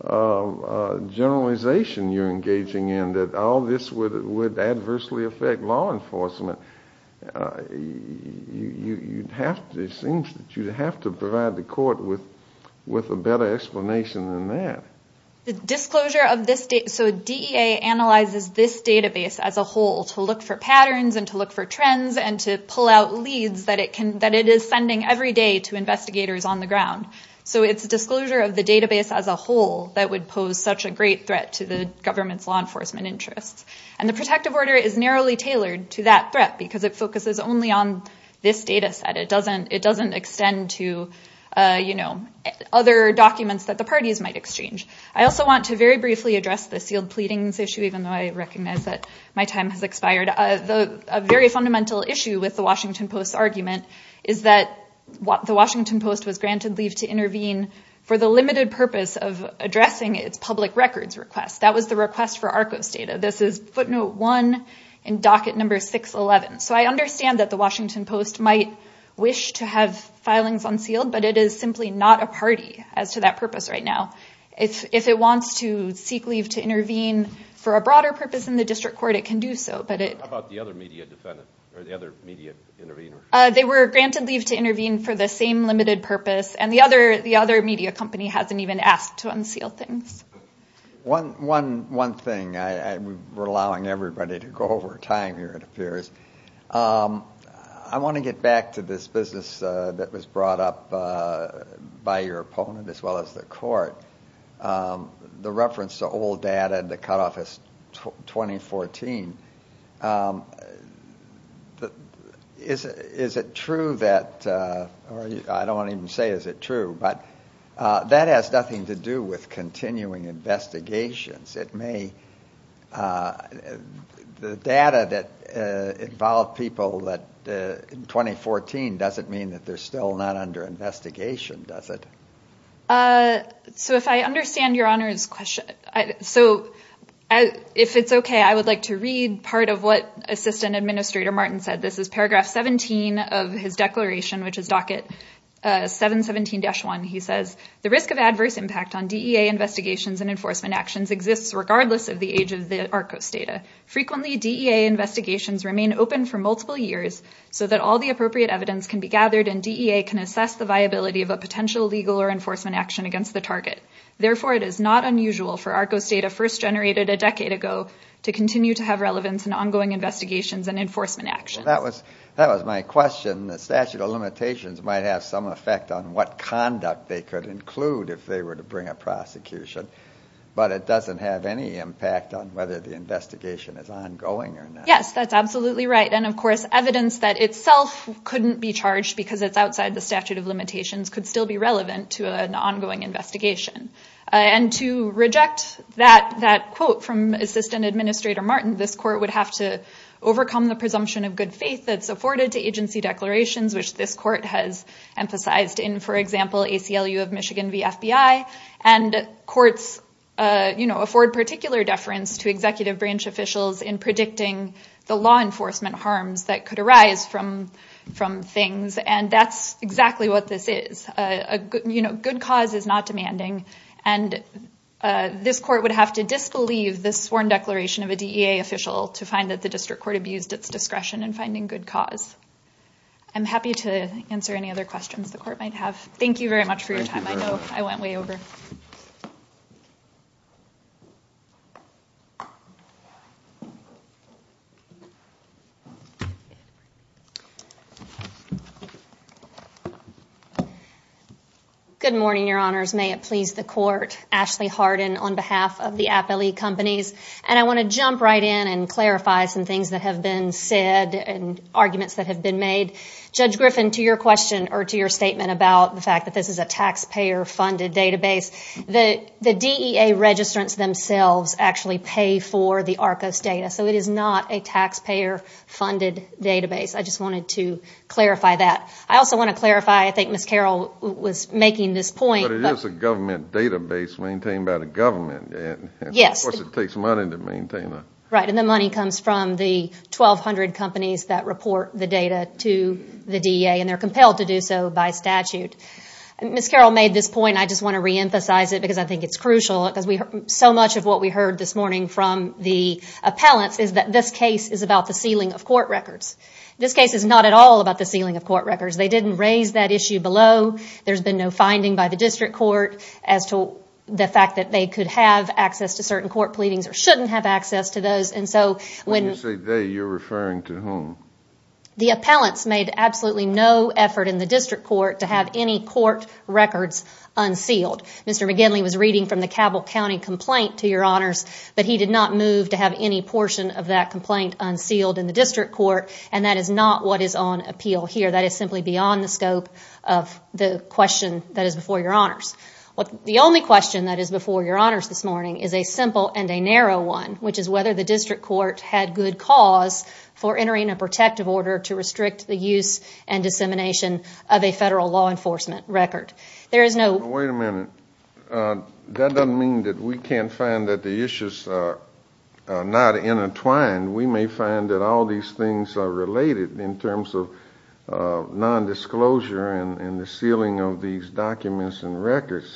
Generalization you're engaging in that all this would it would adversely affect law enforcement You'd have to it seems that you'd have to provide the court with with a better explanation than that Disclosure of this date so DEA analyzes this database as a whole to look for patterns and to look for trends and to pull out leads that it can that it is Sending every day to investigators on the ground So it's a disclosure of the database as a whole that would pose such a great threat to the government's law enforcement Interests and the protective order is narrowly tailored to that threat because it focuses only on this data set It doesn't it doesn't extend to You know other documents that the parties might exchange I also want to very briefly address the sealed pleadings issue Even though I recognize that my time has expired the very fundamental issue with the Washington Post argument Is that what the Washington Post was granted leave to intervene for the limited purpose of addressing its public records request? That was the request for Arcos data. This is footnote one in docket number 611 So I understand that the Washington Post might wish to have filings unsealed But it is simply not a party as to that purpose right now If if it wants to seek leave to intervene for a broader purpose in the district court, it can do so But it They were granted leave to intervene for the same limited purpose and the other the other media company hasn't even asked to unseal things One one one thing I we're allowing everybody to go over time here. It appears I Want to get back to this business that was brought up by your opponent as well as the court the reference to old data and the cutoff is 2014 The is is it true that Or I don't even say is it true, but that has nothing to do with continuing investigations it may The data that involved people that 2014 doesn't mean that they're still not under investigation. Does it? So if I understand your honors question, so If it's okay, I would like to read part of what assistant administrator Martin said. This is paragraph 17 of his declaration, which is docket 717 dash one He says the risk of adverse impact on DEA investigations and enforcement actions exists regardless of the age of the Arcos data Frequently DEA investigations remain open for multiple years so that all the appropriate evidence can be gathered and DEA can assess the viability of a potential legal or Enforcement action against the target Therefore it is not unusual for Arcos data first generated a decade ago to continue to have relevance and ongoing Investigations and enforcement action that was that was my question the statute of limitations might have some effect on what? Conduct they could include if they were to bring a prosecution But it doesn't have any impact on whether the investigation is ongoing or yes, that's absolutely right And of course evidence that itself Couldn't be charged because it's outside the statute of limitations could still be relevant to an ongoing investigation And to reject that that quote from assistant administrator Martin this court would have to overcome the presumption of good faith that's afforded to agency declarations, which this court has emphasized in for example a CLU of Michigan V FBI and courts You know afford particular deference to executive branch officials in predicting the law enforcement harms that could arise from from things and that's exactly what this is a good, you know, good cause is not demanding and This court would have to disbelieve this sworn declaration of a DEA official to find that the district court abused its discretion and finding good cause I'm Happy to answer any other questions the court might have. Thank you very much for your time. I know I went way over Thank you Good morning, your honors may it please the court Ashley Harden on behalf of the app elite companies and I want to jump right in and Clarify some things that have been said and arguments that have been made Judge Griffin to your question or to your statement about the fact that this is a taxpayer funded database The the DEA registrants themselves actually pay for the Arcos data. So it is not a taxpayer Funded database. I just wanted to clarify that. I also want to clarify. I think miss Carroll was making this point But it is a government database maintained by the government Yes, it takes money to maintain that right and the money comes from the 1,200 companies that report the data to the DEA and they're compelled to do so by statute Miss Carroll made this point I just want to reemphasize it because I think it's crucial because we heard so much of what we heard this morning from the Appellants is that this case is about the sealing of court records. This case is not at all about the sealing of court records They didn't raise that issue below there's been no finding by the district court as to The fact that they could have access to certain court pleadings or shouldn't have access to those and so when you say they you're referring to whom The appellants made absolutely no effort in the district court to have any court records unsealed Mr. McGinley was reading from the Cabell County complaint to your honors But he did not move to have any portion of that complaint unsealed in the district court And that is not what is on appeal here That is simply beyond the scope of the question that is before your honors What the only question that is before your honors this morning is a simple and a narrow one For entering a protective order to restrict the use and dissemination of a federal law enforcement record. There is no wait a minute That doesn't mean that we can't find that the issues Not in a twine. We may find that all these things are related in terms of Nondisclosure and the sealing of these documents and records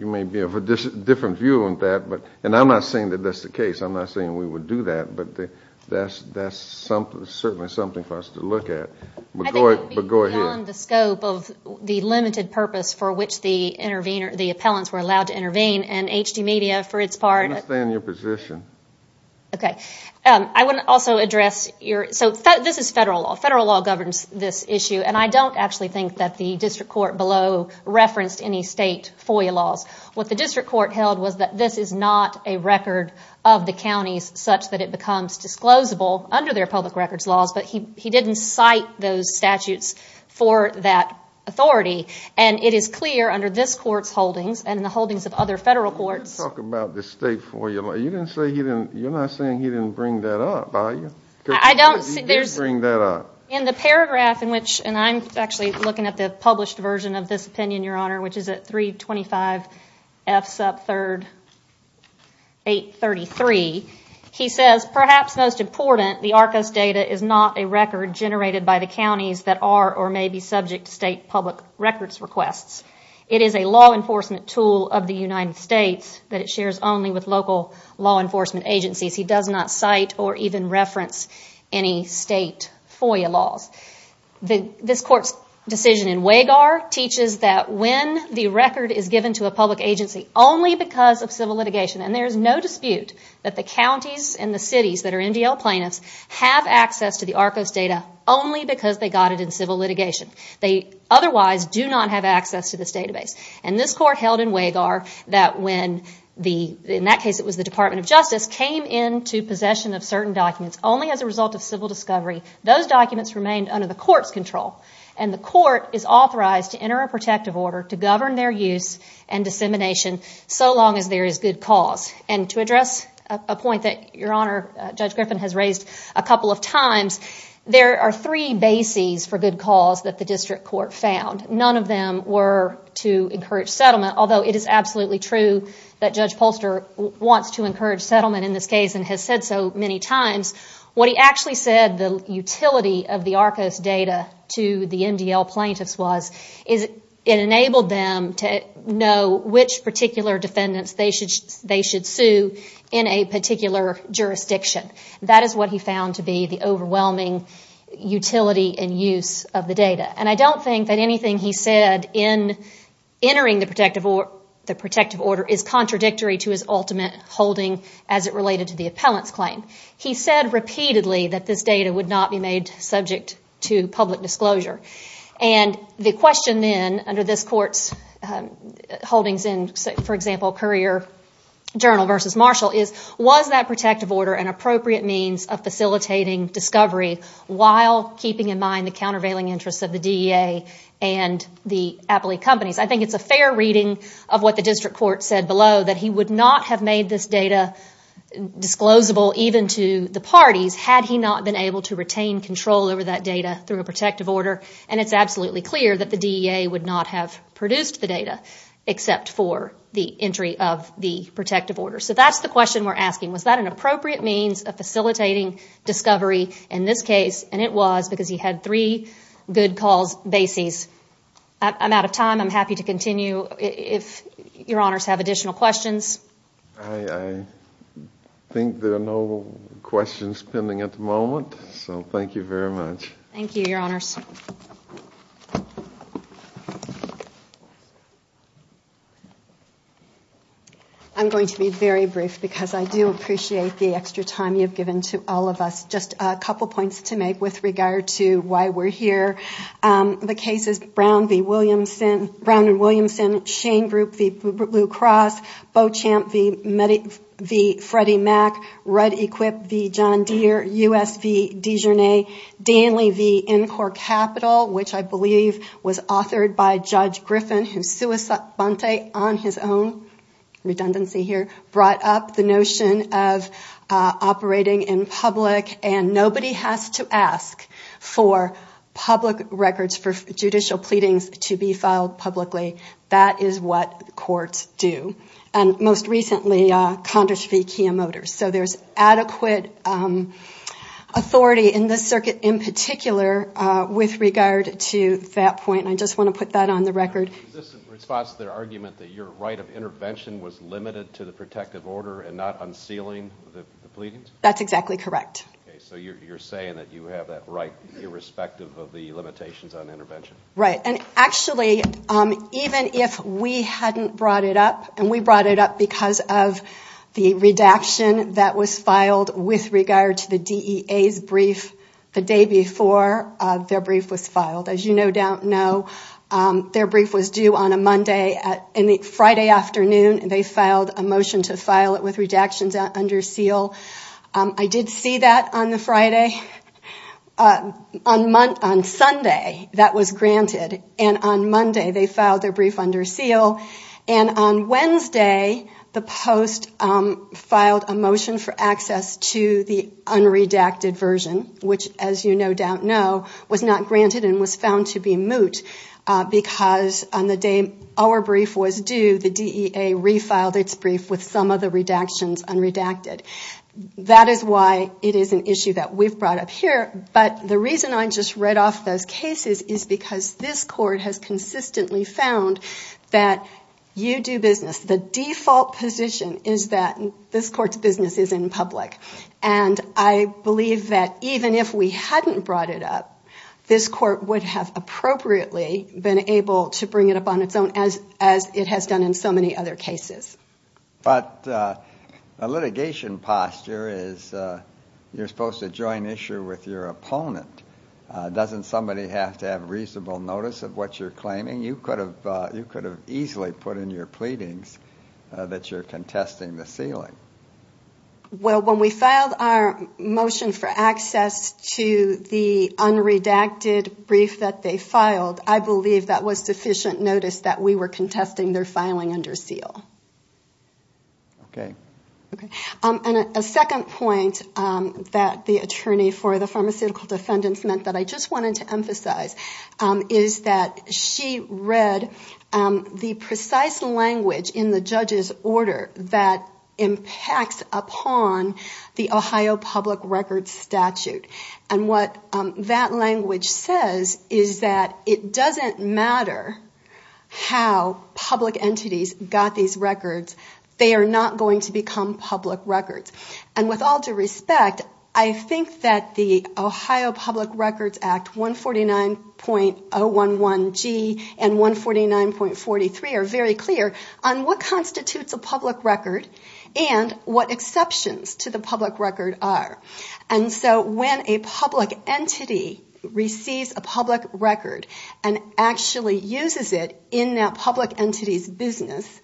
You may be of a different view on that but and I'm not saying that that's the case I'm not saying we would do that, but they that's that's something certainly something for us to look at but go ahead The limited purpose for which the intervener the appellants were allowed to intervene and HD media for its part in your position Okay, I wouldn't also address your so this is federal federal law governs this issue And I don't actually think that the district court below referenced any state FOIA laws What the district court held was that this is not a record of the counties such that it becomes Disclosable under their public records laws, but he he didn't cite those statutes for that Authority and it is clear under this courts holdings and in the holdings of other federal courts Talk about this state for you. You didn't say he didn't you're not saying he didn't bring that up I don't see there's bring that up in the paragraph in which and I'm actually looking at the published version of this opinion Your honor, which is at 325 F sub 3rd 8 33 He says perhaps most important the Arcos data is not a record Generated by the counties that are or may be subject to state public records requests It is a law enforcement tool of the United States that it shares only with local law enforcement agencies He does not cite or even reference any state FOIA laws The this court's Decision in Wagar teaches that when the record is given to a public agency only because of civil litigation and there's no dispute That the counties and the cities that are MDL plaintiffs have access to the Arcos data only because they got it in civil litigation They otherwise do not have access to this database and this court held in Wagar that when the in that case It was the Department of Justice came in to possession of certain documents only as a result of civil discovery those documents remained under the court's control and the court is authorized to enter a protective order to govern their use and Dissemination so long as there is good cause and to address a point that your honor Judge Griffin has raised a couple of times There are three bases for good cause that the district court found none of them were to encourage settlement Although it is absolutely true that Judge Polster wants to encourage settlement in this case and has said so many times What he actually said the utility of the Arcos data to the MDL plaintiffs was is It enabled them to know which particular defendants they should they should sue in a particular Jurisdiction that is what he found to be the overwhelming Utility and use of the data and I don't think that anything he said in Entering the protective or the protective order is contradictory to his ultimate holding as it related to the appellants claim he said repeatedly that this data would not be made subject to public disclosure and The question then under this courts holdings in for example Courier Journal versus Marshall is was that protective order an appropriate means of facilitating discovery? While keeping in mind the countervailing interests of the DEA and the appellate companies I think it's a fair reading of what the district court said below that he would not have made this data Disclosable even to the parties had he not been able to retain control over that data through a protective order and it's absolutely clear that the DEA would not have produced the data Except for the entry of the protective order. So that's the question. We're asking. Was that an appropriate means of facilitating? Discovery in this case and it was because he had three good calls bases I'm out of time. I'm happy to continue if your honors have additional questions Think there are no questions pending at the moment. So thank you very much. Thank you your honors I'm going to be very brief because I do appreciate the extra time You've given to all of us just a couple points to make with regard to why we're here The case is Brown v. Williamson Brown and Williamson Shane group the blue cross Beauchamp the many the Freddie Mac red equip the John Deere USP Dijon a Danley the in-court capital, which I believe was authored by Judge Griffin who? suicide on his own redundancy here brought up the notion of operating in public and nobody has to ask for Public records for judicial pleadings to be filed publicly. That is what courts do and most recently Condors v Kia Motors, so there's adequate Authority in this circuit in particular with regard to that point. I just want to put that on the record Argument that your right of intervention was limited to the protective order and not unsealing the pleadings. That's exactly correct Okay, so you're saying that you have that right irrespective of the limitations on intervention, right? And actually Even if we hadn't brought it up and we brought it up because of The redaction that was filed with regard to the DEA's brief the day before Their brief was filed as you no doubt know Their brief was due on a Monday at any Friday afternoon and they filed a motion to file it with redactions under seal I did see that on the Friday On month on Sunday that was granted and on Monday they filed their brief under seal and on Wednesday the post filed a motion for access to the Unredacted version which as you no doubt know was not granted and was found to be moot Because on the day our brief was due the DEA refiled its brief with some of the redactions unredacted That is why it is an issue that we've brought up here but the reason I just read off those cases is because this court has consistently found that you do business the default position is that this court's business is in public and I believe that even if we hadn't brought it up This court would have appropriately been able to bring it up on its own as as it has done in so many other cases but a litigation posture is You're supposed to join issue with your opponent Doesn't somebody have to have reasonable notice of what you're claiming you could have you could have easily put in your pleadings That you're contesting the ceiling well when we filed our motion for access to the Unredacted brief that they filed. I believe that was sufficient notice that we were contesting their filing under seal Okay And a second point that the attorney for the pharmaceutical defendants meant that I just wanted to emphasize Is that she read? the precise language in the judge's order that impacts upon The Ohio public records statute and what that language says is that it doesn't matter How public entities got these records they are not going to become public records and with all due respect I think that the Ohio Public Records Act 149 point 011 G and 149 point 43 are very clear on what constitutes a public record and What exceptions to the public record are and so when a public entity? receives a public record and Actually uses it in that public entities business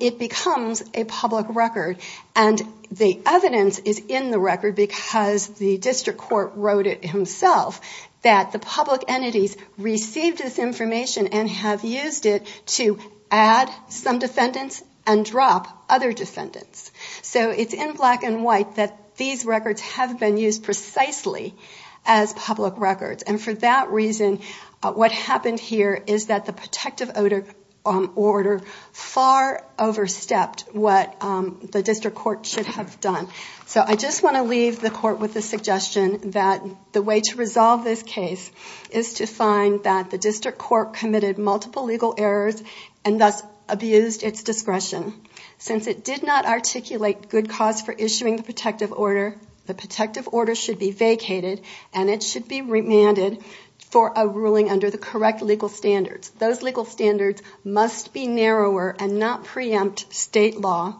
it becomes a public record and The evidence is in the record because the district court wrote it himself that the public entities received this information and have used it to add Some defendants and drop other defendants so it's in black and white that these records have been used precisely as That reason what happened here? Is that the protective odor on order far? overstepped what The district court should have done So I just want to leave the court with the suggestion that the way to resolve this case is To find that the district court committed multiple legal errors and thus abused its discretion Since it did not articulate good cause for issuing the protective order The protective order should be vacated and it should be remanded for a ruling under the correct legal standards Those legal standards must be narrower and not preempt state law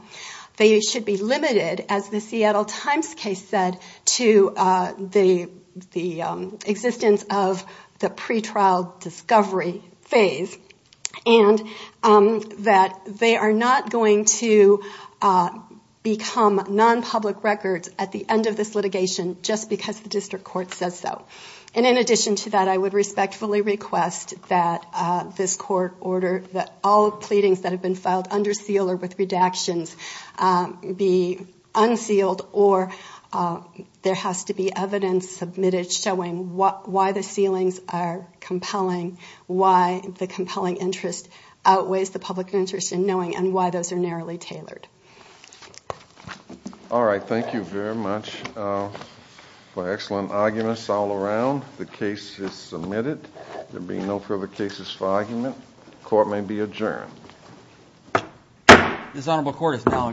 they should be limited as the Seattle Times case said to the existence of the pretrial discovery phase and That they are not going to Become non-public records at the end of this litigation just because the district court says so and in addition to that I would respectfully Request that this court order that all pleadings that have been filed under seal or with redactions be unsealed or There has to be evidence submitted showing what why the ceilings are compelling why the compelling interest? Outweighs the public interest in knowing and why those are narrowly tailored All right, thank you very much For excellent arguments all around the case is submitted there being no further cases for argument court may be adjourned This honorable court is now adjourned